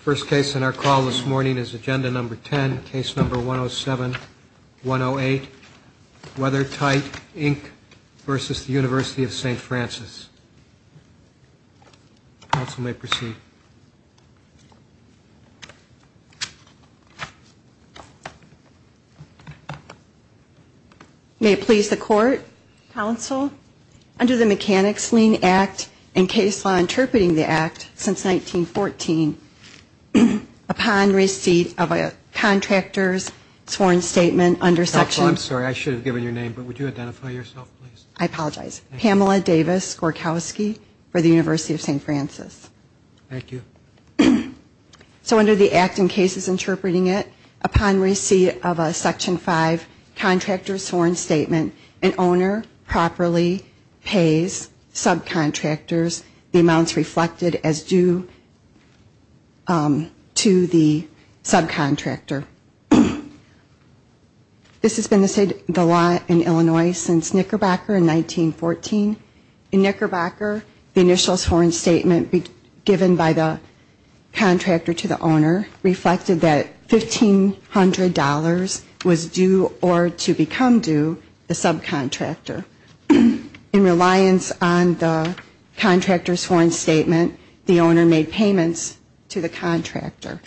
First case in our call this morning is Agenda No. 10, Case No. 107-108, Weather-Tite, Inc. v. University of St. Francis. Counsel may proceed. May it please the Court, Counsel, under the Mechanics-Lean Act and case law interpreting the Act since 1914, upon receipt of a contractor's sworn statement under Section... Counsel, I'm sorry, I should have given your name, but would you identify yourself, please? I apologize. Pamela Davis-Gorkowski for the University of St. Francis. Thank you. So under the Act and cases interpreting it, upon receipt of a Section 5 contractor's sworn statement, an owner properly pays subcontractors the amounts reflected as due to the subcontractor. This has been the law in Illinois since Knickerbocker in 1914. In Knickerbocker, the initial sworn statement given by the contractor to the owner reflected that $1,500 was due or to become due the subcontractor. In reliance on the contractor's sworn statement, the owner made payments to the contractor.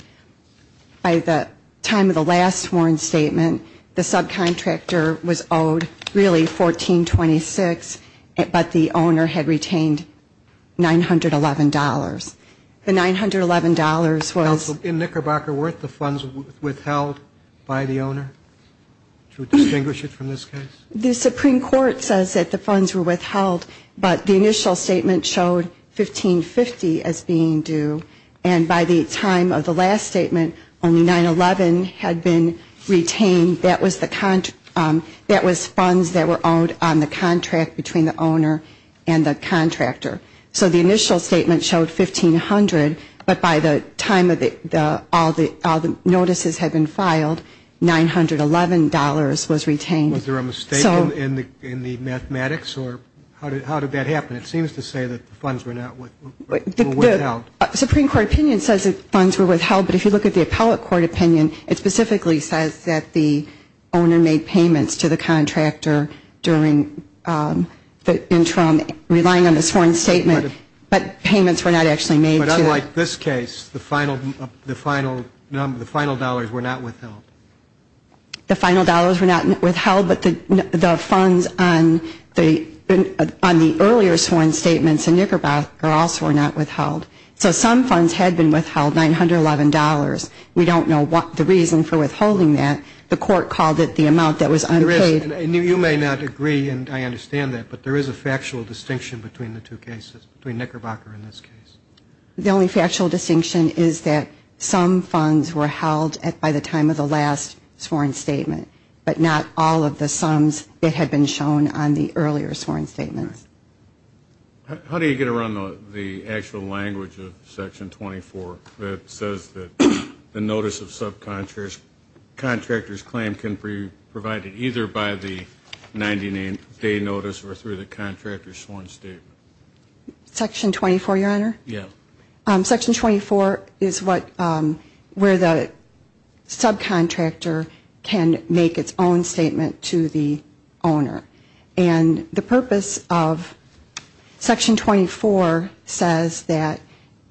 By the time of the last sworn statement, the subcontractor was owed really $1,426, but the owner had retained $911. The $911 was... The Supreme Court says that the funds were withheld, but the initial statement showed $1,550 as being due. And by the time of the last statement, only $911 had been retained. That was funds that were owed on the contract between the owner and the contractor. So the initial statement showed $1,500, but by the time all the notices had been filed, $911 was retained. Was there a mistake in the mathematics, or how did that happen? It seems to say that the funds were withheld. The Supreme Court opinion says that the funds were withheld, but if you look at the appellate court opinion, it specifically says that the owner made payments to the contractor during the interim, relying on the sworn statement, but payments were not actually made. But unlike this case, the final dollars were not withheld. The final dollars were not withheld, but the funds on the earlier sworn statements in Knickerbocker also were not withheld. So some funds had been withheld, $911. We don't know the reason for withholding that. The court called it the amount that was unpaid. And you may not agree, and I understand that, but there is a factual distinction between the two cases, between Knickerbocker and this case. The only factual distinction is that some funds were held by the time of the last sworn statement, but not all of the sums that had been shown on the earlier sworn statements. How do you get around the actual language of Section 24 that says that the notice of subcontractors' claim can be provided either by the 99-day notice or through the contractor's sworn statement? Section 24 is where the subcontractor can make its own statement to the owner. And the purpose of Section 24 says that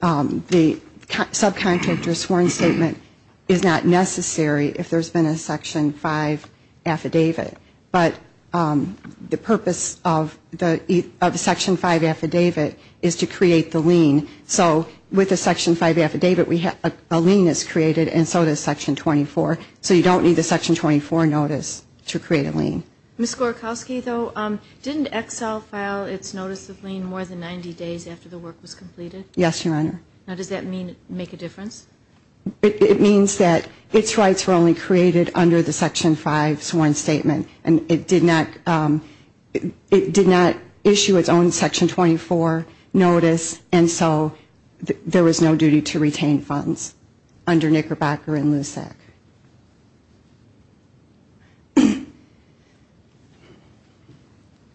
the subcontractor's sworn statement is not necessary if there's been a Section 5 affidavit. But the purpose of the Section 5 affidavit is to create the lien. So with the Section 5 affidavit, a lien is created, and so does Section 24. So you don't need the Section 24 notice to create a lien. Ms. Gorkowski, though, didn't Excel file its notice of lien more than 90 days after the work was completed? Yes, Your Honor. Now does that make a difference? It means that its rights were only created under the Section 5 sworn statement, and it did not issue its own Section 24 notice, and so there was no duty to retain funds under Knickerbocker and LUSAC.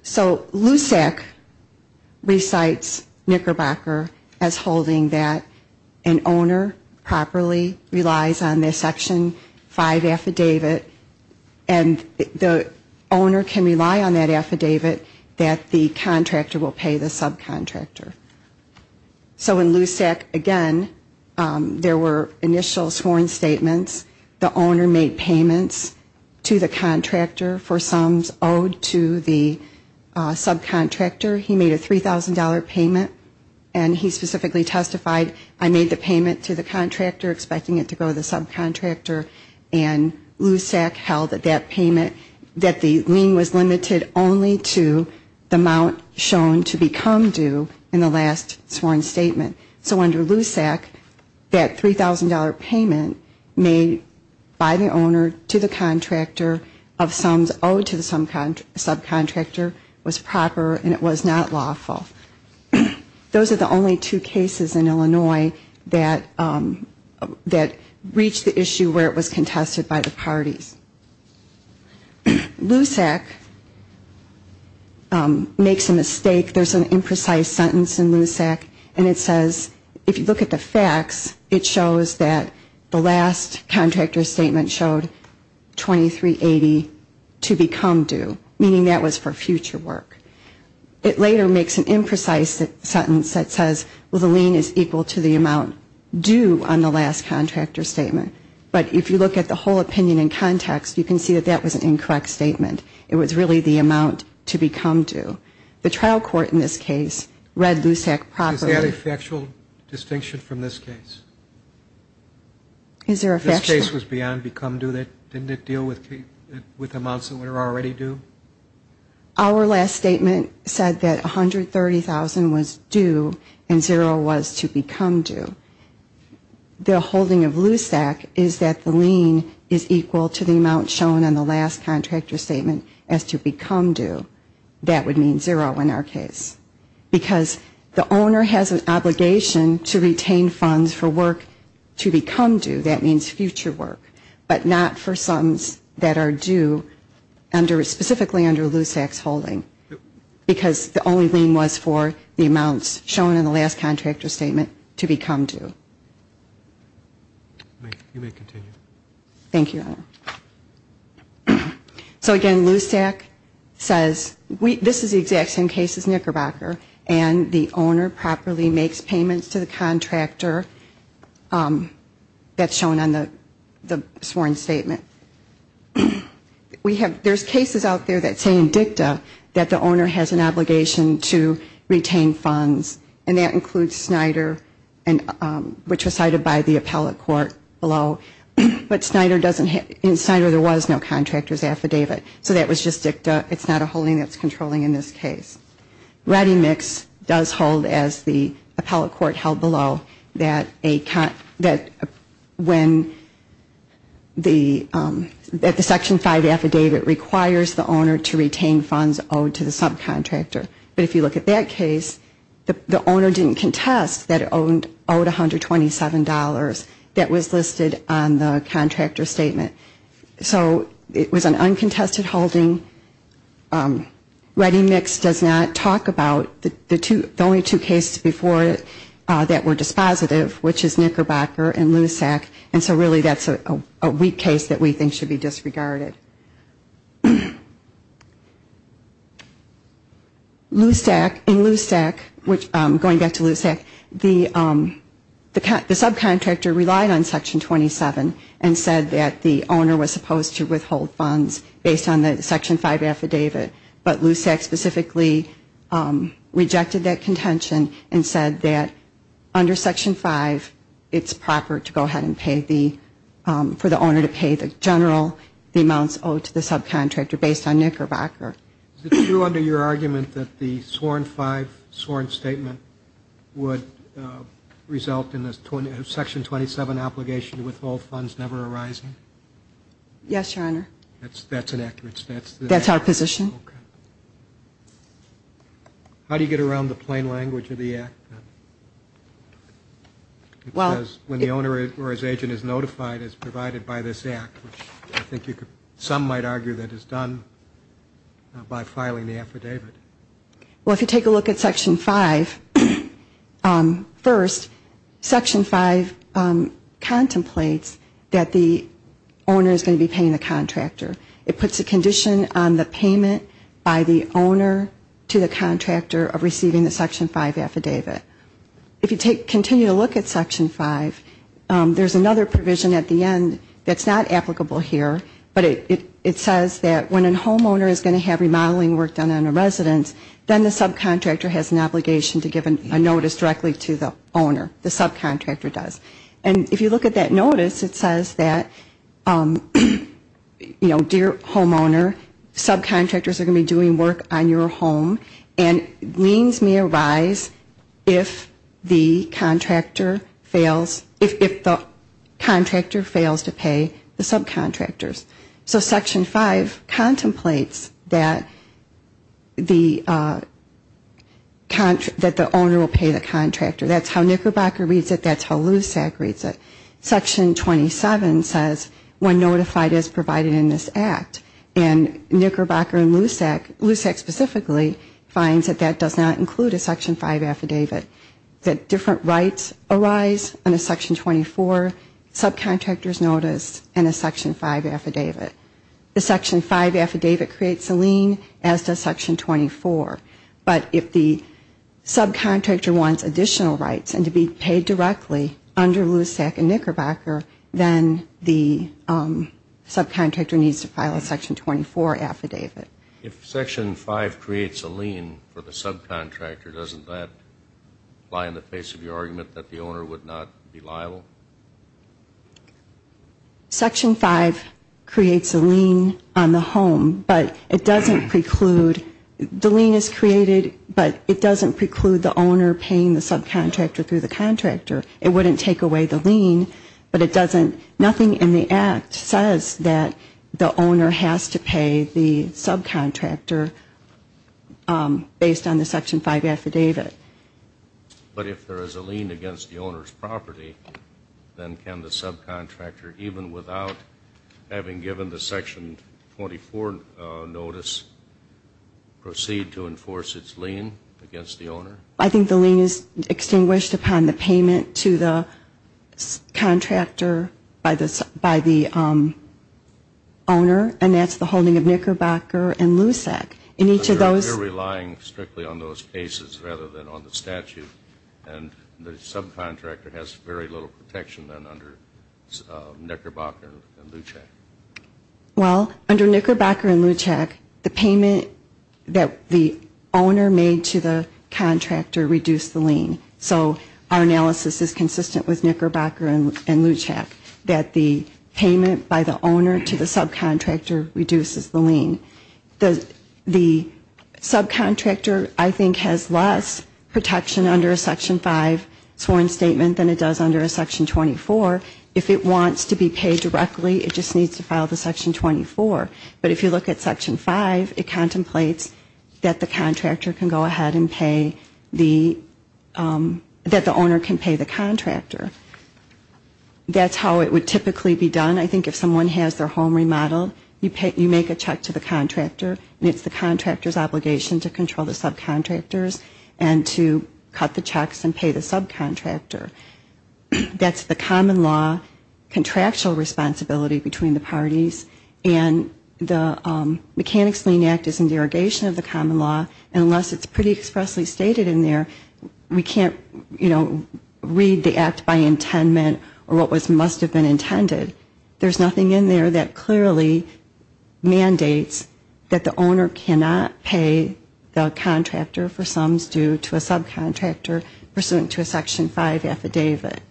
So LUSAC recites Knickerbocker as holding that an owner properly relies on the Section 5 affidavit, and the owner can rely on that affidavit that the contractor will pay the subcontractor. So in LUSAC, again, there were initial sworn statements. The owner made payments to the contractor for sums owed to the subcontractor. He made a $3,000 payment, and he specifically testified, I made the payment to the contractor expecting it to go to the subcontractor, and LUSAC held that that payment, that the lien was limited only to the amount shown to become due in the last sworn statement. So under LUSAC, that $3,000 payment made by the owner to the contractor of sums owed to the subcontractor was proper, and it was not lawful. Those are the only two cases in Illinois that reached the issue where it was contested by the parties. LUSAC makes a mistake. There's an imprecise sentence in LUSAC, and it says, if you look at the facts, it shows that the last contractor statement showed $2380 to become due, meaning that was for future work. It later makes an imprecise sentence that says, well, the lien is equal to the amount due on the last contractor statement. But if you look at the whole opinion in context, you can see that that was an incorrect statement. It was really the amount to become due. The trial court in this case read LUSAC properly. Is there a factual distinction from this case? If this case was beyond become due, didn't it deal with amounts that were already due? Our last statement said that $130,000 was due and zero was to become due. That would mean zero in our case, because the owner has an obligation to retain funds for work to become due. That means future work, but not for sums that are due specifically under LUSAC's holding, because the only lien was for the amounts shown in the last contractor statement to become due. Thank you. So again, LUSAC says this is the exact same case as Knickerbocker, and the owner properly makes payments to the contractor that's shown on the sworn statement. There's cases out there that say in DICTA that the owner has an obligation to retain funds, and that includes Snyder, which was no contractor's affidavit, so that was just DICTA, it's not a holding that's controlling in this case. ReadyMix does hold, as the appellate court held below, that when the section five affidavit requires the owner to retain funds owed to the subcontractor, but if you look at that case, the owner didn't contest that owed $127 that was listed on the subcontractor statement, so it was an uncontested holding. ReadyMix does not talk about the only two cases before that were dispositive, which is Knickerbocker and LUSAC, and so really that's a weak case that we think should be disregarded. LUSAC, in LUSAC, going back to LUSAC, the subcontractor relied on section 27, and said that the subcontractor's owner was supposed to withhold funds based on the section five affidavit, but LUSAC specifically rejected that contention and said that under section five, it's proper to go ahead and pay the, for the owner to pay the general, the amounts owed to the subcontractor based on Knickerbocker. Is it true under your argument that the sworn five sworn statement would result in the section 27 obligation to withhold funds that's never arising? Yes, Your Honor. That's an accurate statement. That's our position. How do you get around the plain language of the act? Because when the owner or his agent is notified, it's provided by this act, which I think you could, some might argue that it's done by filing the affidavit. Well, if you take a look at section five, first, section five contemplates that the owner is going to be paying the contractor. It puts a condition on the payment by the owner to the contractor of receiving the section five affidavit. If you take, continue to look at section five, there's another provision at the end that's not applicable here, but it says that when a homeowner is going to have remodeling work done on a residence, then the subcontractor has an obligation to give a notice directly to the owner, the subcontractor does. And if you look at that notice, it says that, you know, dear homeowner, subcontractors are going to be doing work on your home, and liens may arise if the contractor fails to pay the subcontractors. So section five contemplates that the owner will pay the contractor. That's how Knickerbocker reads it, that's how LUSAC reads it. Section 27 says when notified as provided in this act. And Knickerbocker and LUSAC, LUSAC specifically, finds that that does not include a section five affidavit. That different rights arise in a section 24 subcontractor's notice and a section five affidavit. The section five affidavit creates a lien, as does section 24. But if the subcontractor wants additional rights and to be paid directly under LUSAC and Knickerbocker, then the subcontractor needs to file a section 24 affidavit. If section five creates a lien for the subcontractor, doesn't that lie in the face of your argument that the owner would not be liable? Section five creates a lien on the home, but it doesn't preclude, the lien is created, but it doesn't preclude the owner paying the subcontractor through the contractor. It wouldn't take away the lien, but it doesn't. Nothing in the act says that the owner has to pay the subcontractor based on the section five affidavit. But if there is a lien against the owner's property, then can the subcontractor, even without having given the section 24 notice, proceed to enforce its lien against the owner? I think the lien is extinguished upon the payment to the contractor by the owner, and that's the holding of Knickerbocker and LUSAC. We're relying strictly on those cases rather than on the statute, and the subcontractor has very little protection under Knickerbocker and LUSAC. Well, under Knickerbocker and LUSAC, the payment that the owner made to the contractor is a lien. So our analysis is consistent with Knickerbocker and LUSAC, that the payment by the owner to the subcontractor reduces the lien. The subcontractor, I think, has less protection under a section five sworn statement than it does under a section 24. If it wants to be paid directly, it just needs to file the section 24. But if you look at section five, it contemplates that the contractor can go ahead and pay the lien. That the owner can pay the contractor. That's how it would typically be done. I think if someone has their home remodeled, you make a check to the contractor, and it's the contractor's obligation to control the subcontractors and to cut the checks and pay the subcontractor. That's the common law contractual responsibility between the parties, and the Mechanics Lien Act is in derogation of the common law, unless it's pretty expressly stated in there, we can't, you know, read the act by intent or what must have been intended. There's nothing in there that clearly mandates that the owner cannot pay the contractor for sums due to a subcontractor pursuant to a section five affidavit.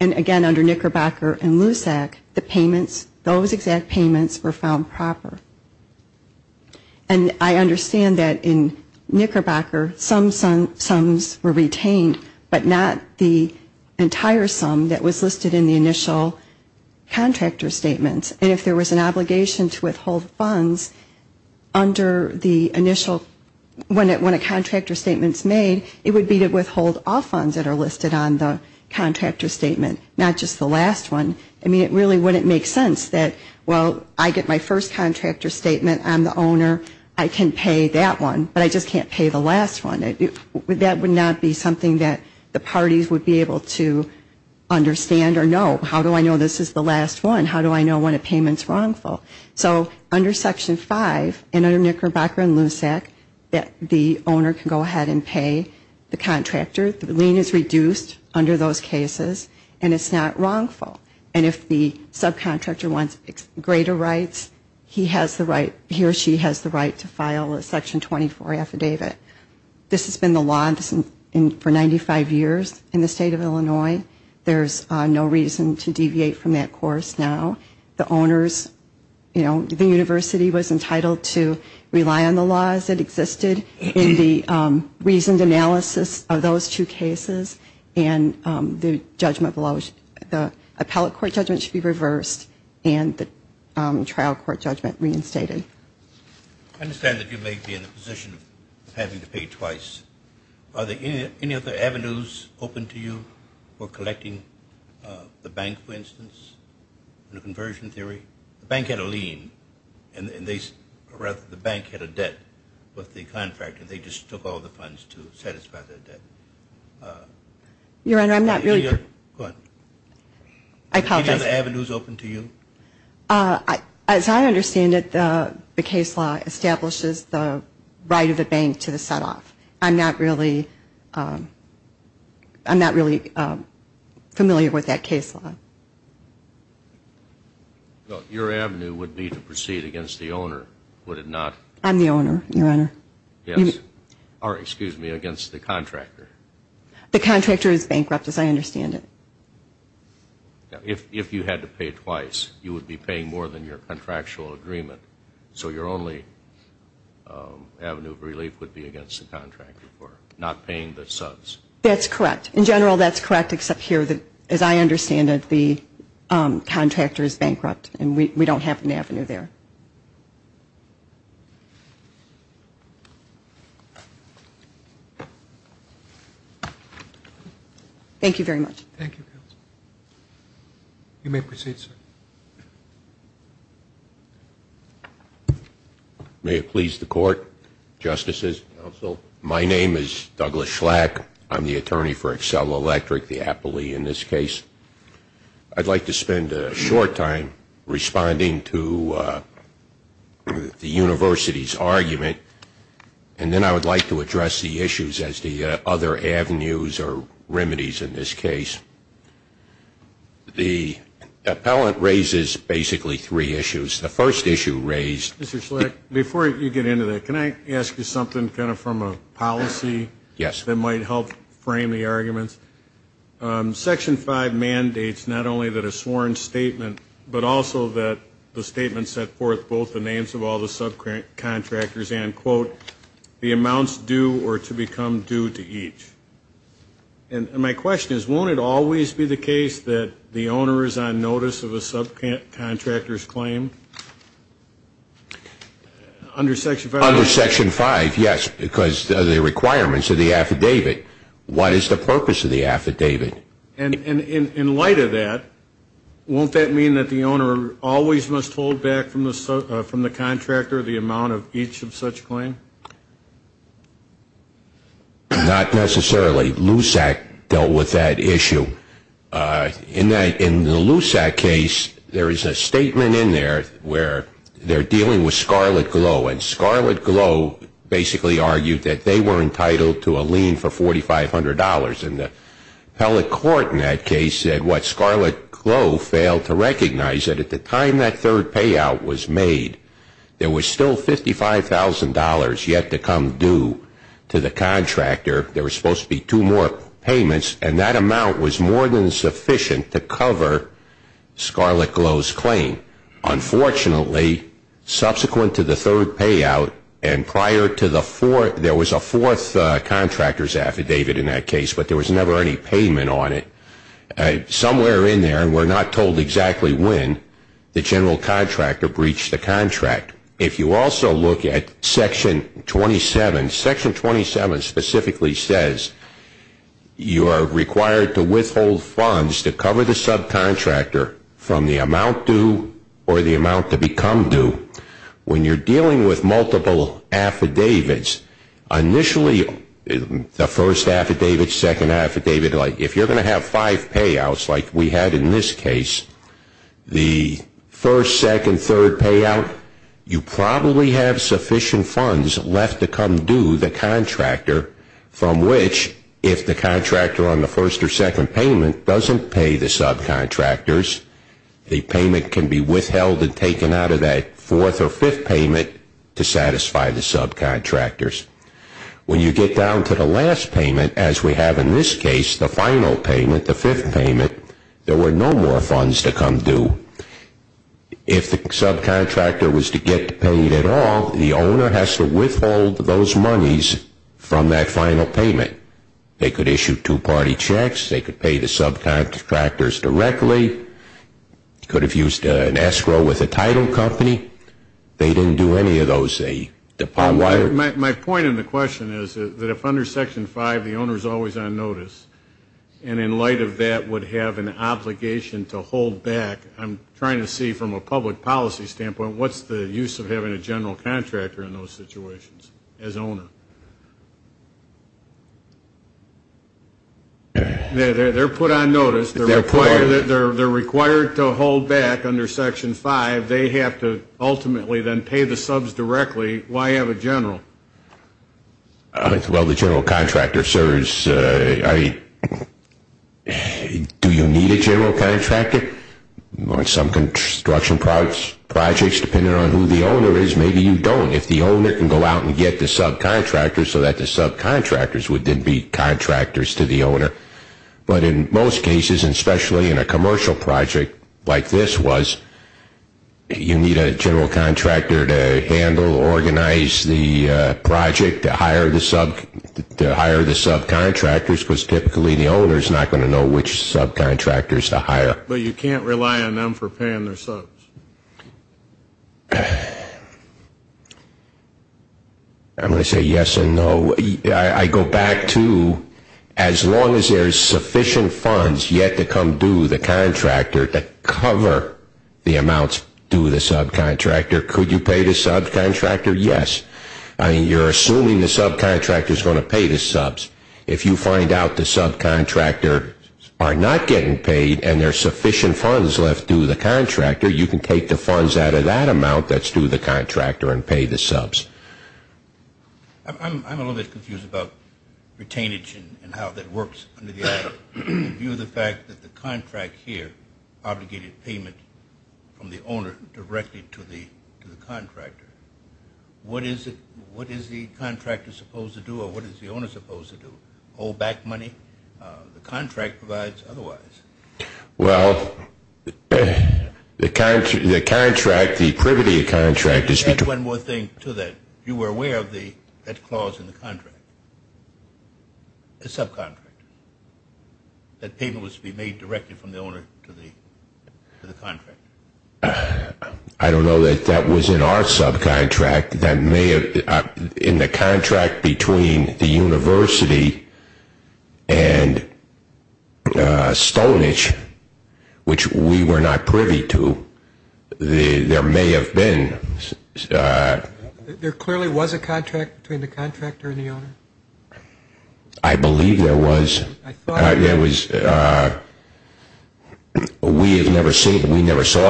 And again, under Knickerbocker and LUSAC, the payments, those exact payments were found proper. And I understand that in Knickerbocker, some sums were retained, but not the entire sum that was listed in the initial contractor statements. And if there was an obligation to withhold funds under the initial, when a contractor statement is made, it would be to withhold all funds that are listed on the contractor statement, not just the last one. I mean, it really wouldn't make sense that, well, I get my first contractor statement, I'm the owner, I can pay that one, but I just can't pay the last one. That would not be something that the parties would be able to understand or know. How do I know this is the last one? How do I know when a payment's wrongful? So under section five, and under Knickerbocker and LUSAC, the owner can go ahead and pay the contractor. The lien is reduced under those cases, and it's not wrongful. And if the subcontractor wants greater rights, he has the right, he or she has the right to file a section 24 affidavit. This has been the law for 95 years in the state of Illinois. There's no reason to deviate from that course now. The owners, you know, the university was entitled to rely on the laws that existed in the reasoned analysis of those two cases, and the judgment, the appellate court judgment should be reversed, and the trial court judgment reinstated. I understand that you may be in the position of having to pay twice. Are there any other avenues open to you for collecting the bank, for instance, in a conversion theory? The bank had a lien, and they, or rather, the bank had a debt with the contractor. And they just took all the funds to satisfy their debt. Your Honor, I'm not really... Go ahead. I apologize. Are there other avenues open to you? As I understand it, the case law establishes the right of the bank to the set-off. I'm not really familiar with that case law. Your avenue would be to proceed against the owner, would it not? I'm the owner, Your Honor. Or, excuse me, against the contractor. The contractor is bankrupt, as I understand it. If you had to pay twice, you would be paying more than your contractual agreement. So your only avenue of relief would be against the contractor for not paying the subs. That's correct. In general, that's correct, except here, as I understand it, the contractor is bankrupt, and we don't have an avenue there. Thank you. Thank you very much. You may proceed, sir. May it please the Court, Justices, Counsel, my name is Douglas Schlack. I'm the attorney for Accel Electric, the Appley, in this case. I'd like to spend a short time responding to the University's argument, and then I would like to address the issues as the other avenues or remedies in this case. The appellant raises basically three issues. The first issue raised ---- Mr. Schlack, before you get into that, can I ask you something kind of from a policy that might help frame the arguments? Section 5 mandates not only that a sworn statement, but also that the statement set forth both the names of all the subcontractors and, quote, the amounts due or to become due to each. And my question is, won't it always be the case that the owner is on notice of a subcontractor's claim? Under Section 5, yes, because of the requirements of the affidavit. What is the purpose of the affidavit? And in light of that, won't that mean that the owner always must hold back from the contractor the amount of each of such claims? Not necessarily. LUSAC dealt with that issue. In the LUSAC case, there is a statement in there where they're dealing with Scarlett Glow, and the appellate court in that case said what Scarlett Glow failed to recognize, that at the time that third payout was made, there was still $55,000 yet to come due to the contractor. There were supposed to be two more payments, and that amount was more than sufficient to cover Scarlett Glow's claim. Unfortunately, subsequent to the third payout and prior to the fourth, there was a fourth contractor's affidavit in that case, but there was never any payment on it. Somewhere in there, and we're not told exactly when, the general contractor breached the contract. If you also look at Section 27, Section 27 specifically says you are required to withhold funds to cover the subcontractor from the amount due or the amount to become due. When you're dealing with multiple affidavits, initially the first affidavit, second affidavit, if you're going to have five payouts like we had in this case, the first, second, third payout, you probably have sufficient funds left to come due the contractor from which, if the contractor on the first or second payment doesn't pay the subcontractors, the payment can be withheld and taken out of that fourth or fifth payment to satisfy the subcontractors. When you get down to the last payment, as we have in this case, the final payment, the fifth payment, there were no more funds to come due. If the subcontractor was to get paid at all, the owner has to withhold those monies from that final payment. They could issue two-party checks, they could pay the subcontractors directly, could have used an escrow with a title company. They didn't do any of those. My point in the question is that if under Section 5 the owner is always on notice, and in light of that would have an obligation to hold back, I'm trying to see from a public policy standpoint, what's the use of having a general contractor in those situations as owner? They're put on notice. They're required to hold back under Section 5. They have to ultimately then pay the subs directly. Why have a general? Well, the general contractor serves... Do you need a general contractor? On some construction projects, depending on who the owner is, maybe you don't. If the owner can go out and get the subcontractors so that the subcontractors would then be contractors to the owner. But in most cases, and especially in a commercial project like this was, you need a general contractor to handle, organize the project, to hire the subcontractors because typically the owner is not going to know which subcontractors to hire. But you can't rely on them for paying their subs. I'm going to say yes and no. I go back to as long as there's sufficient funds yet to come due the contractor to cover the amounts due the subcontractor, could you pay the subcontractor? Yes. You're assuming the subcontractor is going to pay the subs. If you find out the subcontractor are not getting paid and there's sufficient funds left due the contractor, you can take the funds out of that amount that's due the contractor and pay the subs. I'm a little bit confused about retainage and how that works. In view of the fact that the contract here obligated payment from the owner directly to the contractor, what is the contractor supposed to do or what is the owner supposed to do? Hold back money the contract provides otherwise? Well, the contract, the privity of the contract is between You add one more thing to that. You were aware of that clause in the contract, the subcontractor, that payment was to be made directly from the owner to the contractor. I don't know that that was in our subcontract. In the contract between the university and Stonehenge, which we were not privy to, there may have been There clearly was a contract between the contractor and the owner? I believe there was. We never saw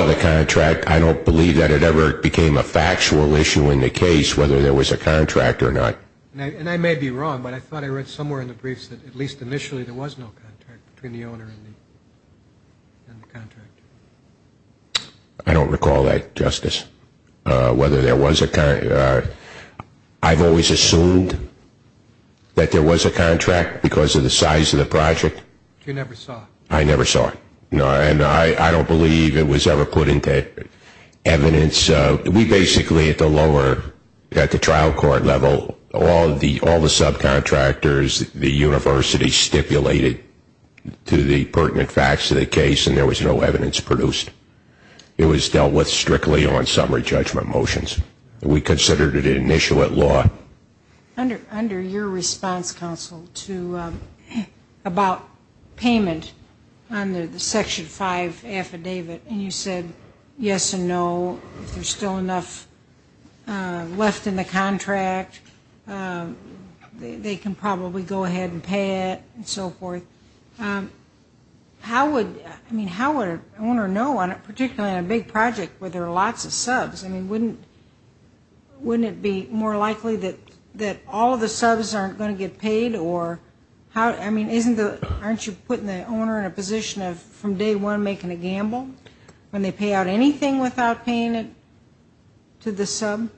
the contract. I don't believe that it ever became a factual issue in the case whether there was a contract or not. And I may be wrong, but I thought I read somewhere in the briefs that at least initially there was no contract between the owner and the contractor. I don't recall that, Justice. I've always assumed that there was a contract because of the size of the project. You never saw it? I never saw it. And I don't believe it was ever put into evidence. We basically at the trial court level, all the subcontractors, the university stipulated to the pertinent facts of the case, and there was no evidence produced. It was dealt with strictly on summary judgment motions. We considered it an issue at law. Under your response, counsel, about payment under the Section 5 affidavit, and you said yes and no, if there's still enough left in the contract, they can probably go ahead and pay it and so forth. How would an owner know, particularly on a big project where there are lots of subs? Wouldn't it be more likely that all of the subs aren't going to get paid? Aren't you putting the owner in a position of from day one making a gamble when they pay out anything without paying it to the sub?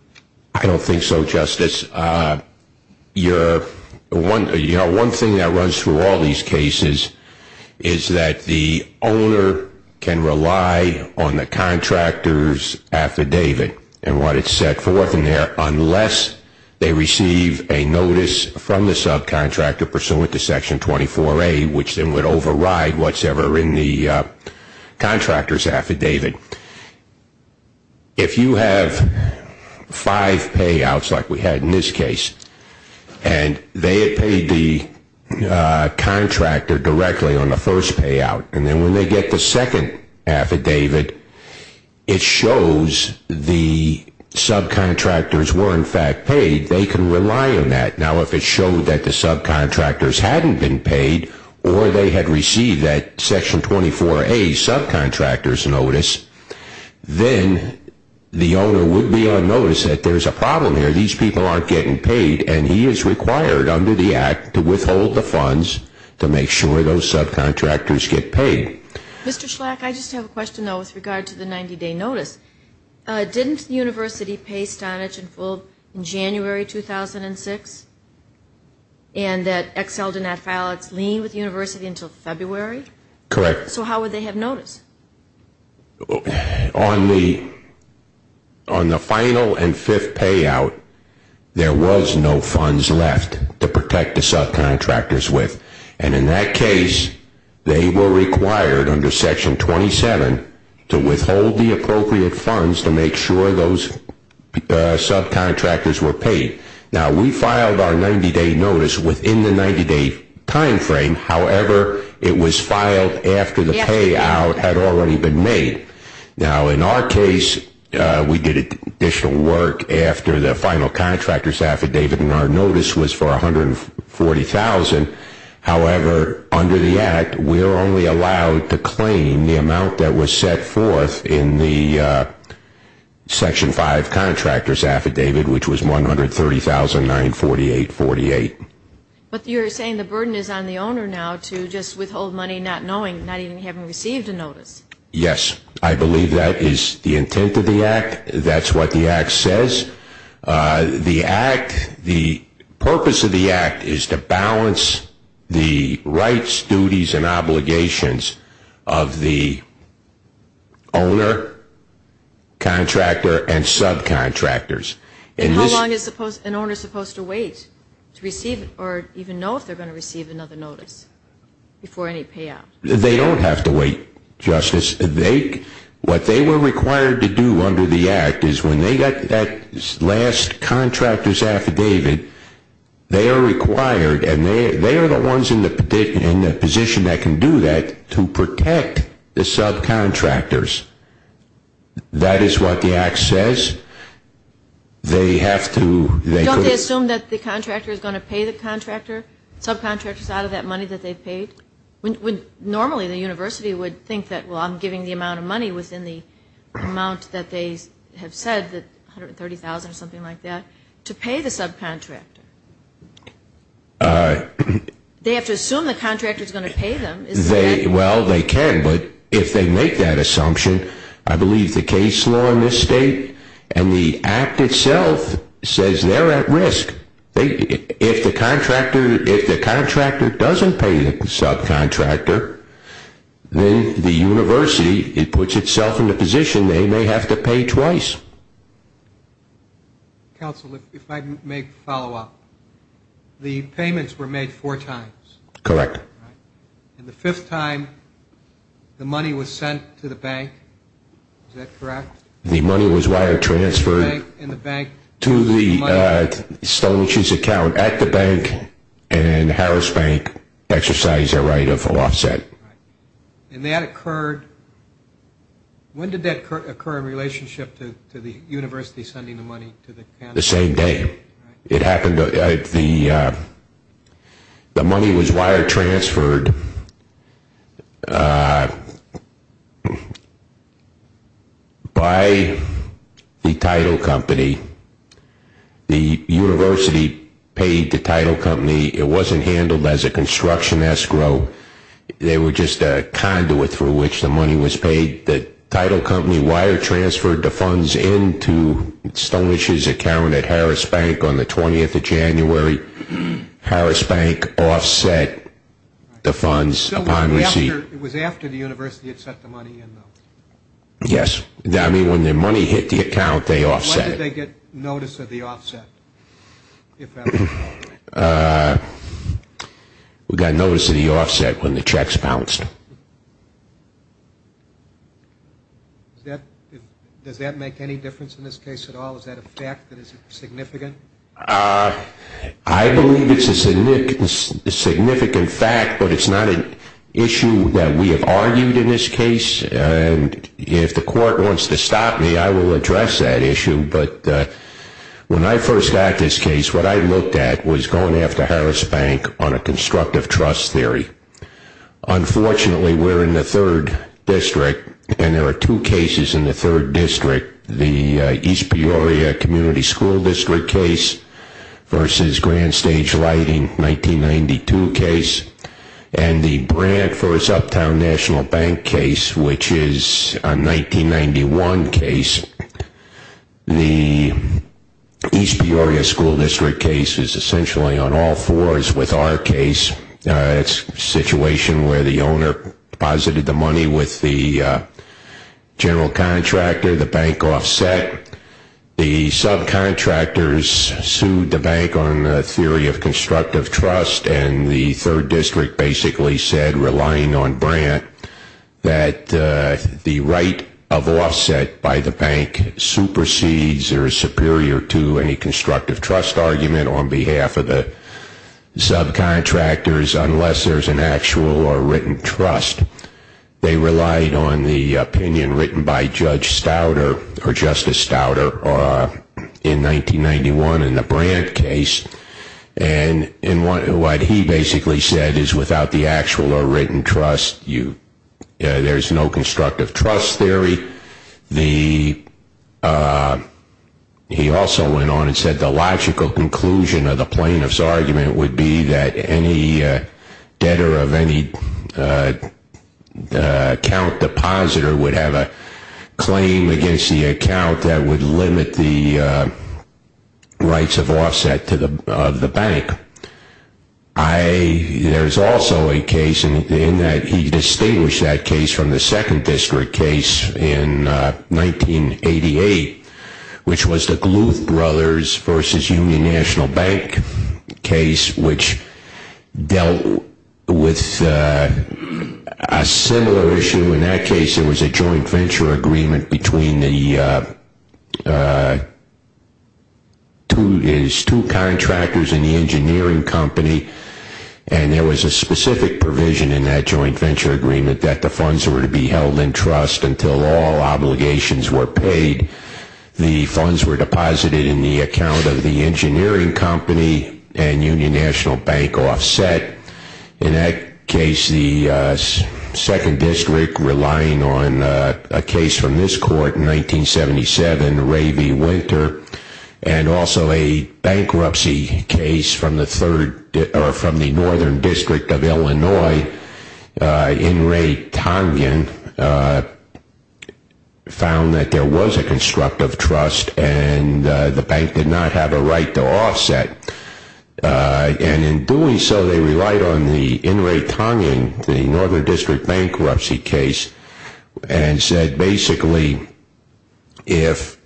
I don't think so, Justice. One thing that runs through all these cases is that the owner can rely on the contractor's affidavit and what it's set forth in there unless they receive a notice from the subcontractor pursuant to Section 24A, which then would override whatsoever in the contractor's affidavit. If you have five payouts like we had in this case, and they had paid the contractor directly on the first payout, and then when they get the second affidavit, it shows the subcontractors were in fact paid, they can rely on that. Now, if it showed that the subcontractors hadn't been paid or they had received that Section 24A subcontractor's notice, then the owner would be on notice that there's a problem here, these people aren't getting paid, and he is required under the Act to withhold the funds to make sure those subcontractors get paid. Mr. Schlack, I just have a question, though, with regard to the 90-day notice. Didn't the university pay Stonich and Fulb in January 2006, and that Excel did not file its lien with the university until February? Correct. So how would they have notice? On the final and fifth payout, there was no funds left to protect the subcontractors with, and in that case, they were required under Section 27 to withhold the appropriate funds to make sure those subcontractors were paid. Now, we filed our 90-day notice within the 90-day time frame. However, it was filed after the payout had already been made. Now, in our case, we did additional work after the final contractor's affidavit, and our notice was for $140,000. However, under the Act, we are only allowed to claim the amount that was set forth in the Section 5 contractor's affidavit, which was $130,948.48. But you're saying the burden is on the owner now to just withhold money not knowing, not even having received a notice. Yes. I believe that is the intent of the Act. That's what the Act says. And how long is an owner supposed to wait to receive or even know if they're going to receive another notice before any payout? They don't have to wait, Justice. What they were required to do under the Act is when they got that last contractor's affidavit, they are required, and they are the ones in the position that can do that, to protect the subcontractors. That is what the Act says. Don't they assume that the contractor is going to pay the subcontractors out of that money that they've paid? Normally, the university would think that, well, I'm giving the amount of money within the amount that they have said, the $130,000 or something like that, to pay the subcontractor. They have to assume the contractor is going to pay them. Well, they can, but if they make that assumption, I believe the case law in this State and the Act itself says they're at risk. If the contractor doesn't pay the subcontractor, then the university puts itself in the position they may have to pay twice. Counsel, if I may follow up. The payments were made four times. Correct. And the fifth time, the money was sent to the bank. Is that correct? The money was wire-transferred to the Stone & Shoes account at the bank, and Harris Bank exercised their right of full offset. And that occurred – when did that occur in relationship to the university sending the money to the county? The same day. It happened – the money was wire-transferred by the title company. The university paid the title company. It wasn't handled as a construction escrow. They were just a conduit through which the money was paid. The title company wire-transferred the funds into Stone & Shoes' account at Harris Bank on the 20th of January. Harris Bank offset the funds upon receipt. It was after the university had sent the money in, though. I mean, when the money hit the account, they offset it. When did they get notice of the offset, if ever? We got notice of the offset when the checks bounced. Does that make any difference in this case at all? Is that a fact? Is it significant? I believe it's a significant fact, but it's not an issue that we have argued in this case. If the court wants to stop me, I will address that issue, but when I first got this case, what I looked at was going after Harris Bank on a constructive trust theory. Unfortunately, we're in the third district, and there are two cases in the third district – the East Peoria Community School District case versus Grand Stage Lighting 1992 case and the Brant v. Uptown National Bank case, which is a 1991 case. The East Peoria School District case is essentially on all fours with our case. It's a situation where the owner deposited the money with the general contractor, the bank offset. The subcontractors sued the bank on a theory of constructive trust, and the third district basically said, relying on Brant, that the right of offset by the bank supersedes or is superior to any constructive trust argument on behalf of the subcontractors unless there's an actual or written trust. They relied on the opinion written by Judge Stauder or Justice Stauder in 1991 in the Brant case. And what he basically said is without the actual or written trust, there's no constructive trust theory. He also went on and said the logical conclusion of the plaintiff's argument would be that any debtor of any account depositor would have a claim against the account that would limit the rights of offset of the bank. There's also a case in that he distinguished that case from the second district case in 1988, which was the Gluth Brothers v. Union National Bank case, which dealt with a similar issue. In that case, there was a joint venture agreement between his two contractors and the engineering company. And there was a specific provision in that joint venture agreement that the funds were to be held in trust until all obligations were paid. The funds were deposited in the account of the engineering company and Union National Bank offset. In that case, the second district, relying on a case from this court in 1977, Ray v. Winter, and also a bankruptcy case from the northern district of Illinois in Ray Tongin, found that there was a constructive trust and the bank did not have a right to offset. And in doing so, they relied on the in Ray Tongin, the northern district bankruptcy case, and said basically if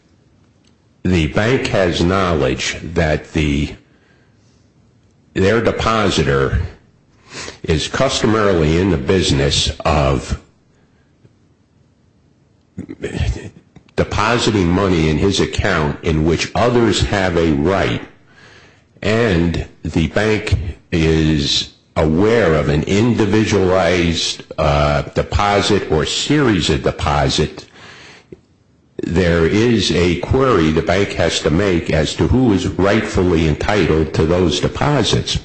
the bank has knowledge that their depositor is customarily in the business of depositing money in his account in which others have a right and the bank is aware of an individualized deposit or series of deposits, there is a query the bank has to make as to who is rightfully entitled to those deposits.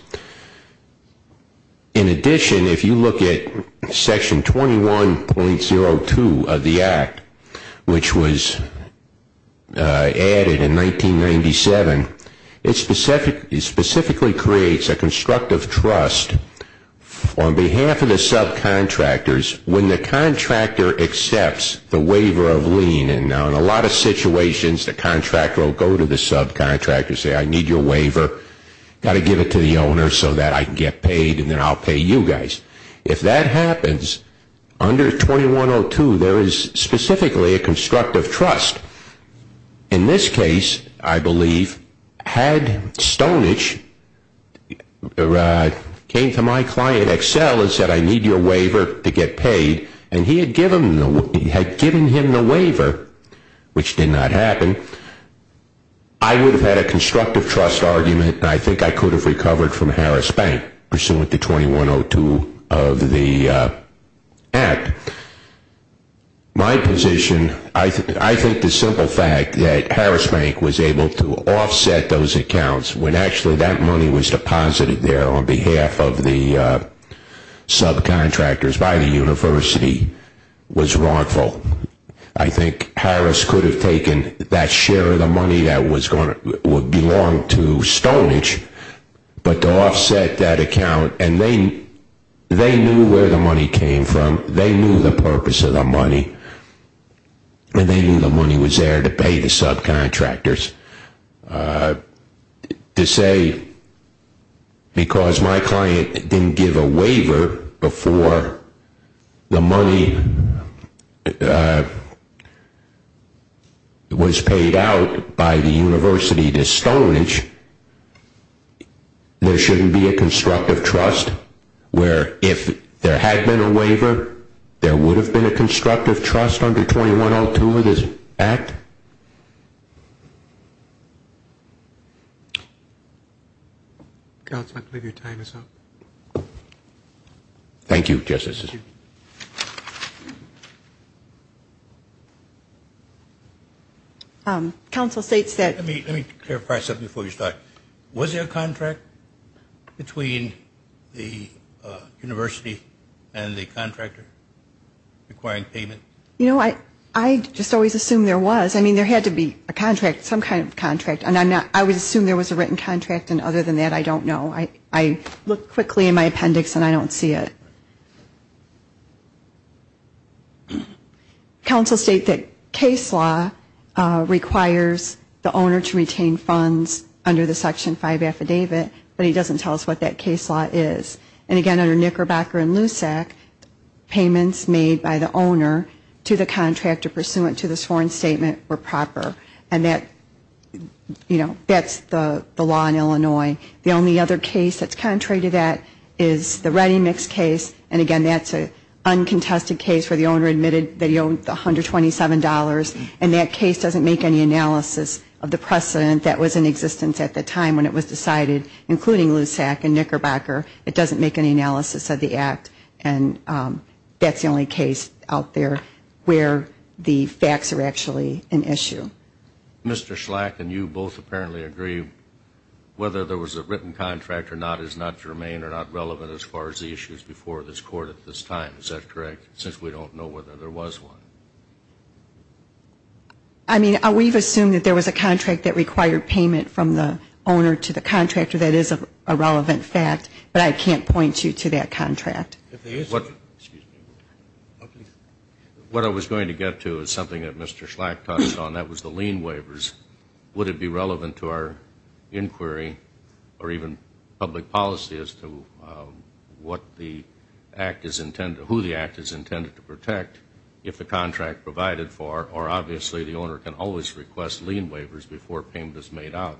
In addition, if you look at Section 21.02 of the Act, which was added in 1997, it specifically creates a constructive trust on behalf of the subcontractors when the contractor accepts the waiver of lien. Now in a lot of situations, the contractor will go to the subcontractor and say, I need your waiver, got to give it to the owner so that I can get paid and then I'll pay you guys. If that happens, under 21.02, there is specifically a constructive trust. In this case, I believe, had Stonich came to my client Excel and said, I need your waiver to get paid, and he had given him the waiver, which did not happen, I would have had a constructive trust argument and I think I could have recovered from Harris Bank, pursuant to 21.02 of the Act. My position, I think the simple fact that Harris Bank was able to offset those accounts when actually that money was deposited there on behalf of the subcontractors by the university was wrongful. I think Harris could have taken that share of the money that would belong to Stonich, but to offset that account, and they knew where the money came from, they knew the purpose of the money, and they knew the money was there to pay the subcontractors. To say, because my client didn't give a waiver before the money was paid out by the university to Stonich, there shouldn't be a constructive trust where if there had been a waiver, there would have been a constructive trust under 21.02 of this Act? Councilman, I believe your time is up. Thank you, Justices. Council, State said- Let me clarify something before you start. Was there a contract between the university and the contractor requiring payment? You know, I just always assume there was. I mean, there had to be a contract, some kind of contract, and I would assume there was a written contract, and other than that, I don't know. I look quickly in my appendix, and I don't see it. Council, State, that case law requires the owner to retain funds under the Section 5 affidavit, but he doesn't tell us what that case law is. And, again, under Knickerbocker and Lusak, payments made by the owner to the contractor pursuant to this foreign statement were proper, and that's the law in Illinois. The only other case that's contrary to that is the Ready Mix case, and, again, that's an uncontested case where the owner admitted that he owned $127, and that case doesn't make any analysis of the precedent that was in existence at the time when it was decided, including Lusak and Knickerbocker. It doesn't make any analysis of the act, and that's the only case out there where the facts are actually an issue. Mr. Schlack and you both apparently agree whether there was a written contract or not is not germane and are not relevant as far as the issues before this Court at this time. Is that correct, since we don't know whether there was one? I mean, we've assumed that there was a contract that required payment from the owner to the contractor. That is a relevant fact, but I can't point you to that contract. What I was going to get to is something that Mr. Schlack touched on. That was the lien waivers. Would it be relevant to our inquiry or even public policy as to what the act is intended, who the act is intended to protect if the contract provided for, or obviously the owner can always request lien waivers before payment is made out,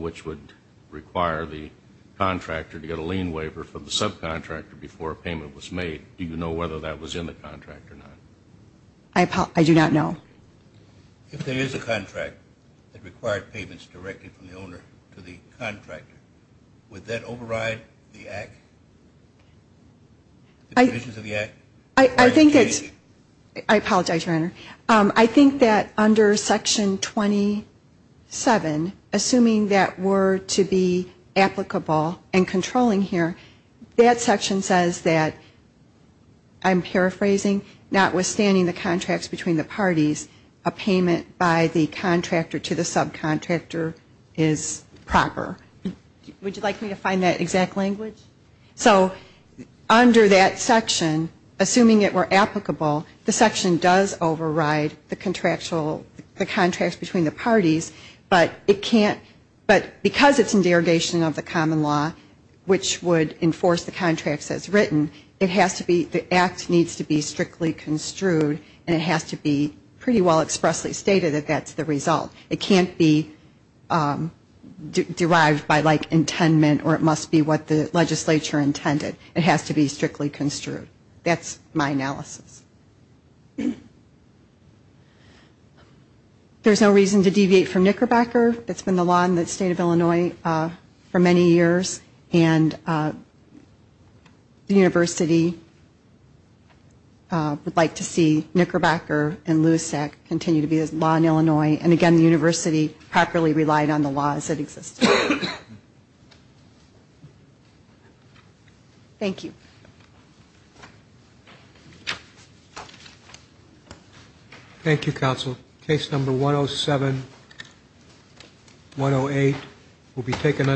which would require the contractor to get a lien waiver from the subcontractor before payment was made. Do you know whether that was in the contract or not? I do not know. If there is a contract that required payments directly from the owner to the contractor, would that override the provisions of the act? I apologize, Your Honor. I think that under Section 27, assuming that were to be applicable and controlling here, that section says that, I'm paraphrasing, notwithstanding the contracts between the parties, a payment by the contractor to the subcontractor is proper. Would you like me to find that exact language? So under that section, assuming it were applicable, but because it's in derogation of the common law, which would enforce the contracts as written, the act needs to be strictly construed and it has to be pretty well expressly stated that that's the result. It can't be derived by, like, intendment or it must be what the legislature intended. It has to be strictly construed. That's my analysis. There's no reason to deviate from Knickerbacker. It's been the law in the state of Illinois for many years, and the university would like to see Knickerbacker and LUSAC continue to be the law in Illinois, and, again, the university properly relied on the laws that existed. Thank you. Thank you. Thank you, counsel. Case number 107-108 will be taken under review.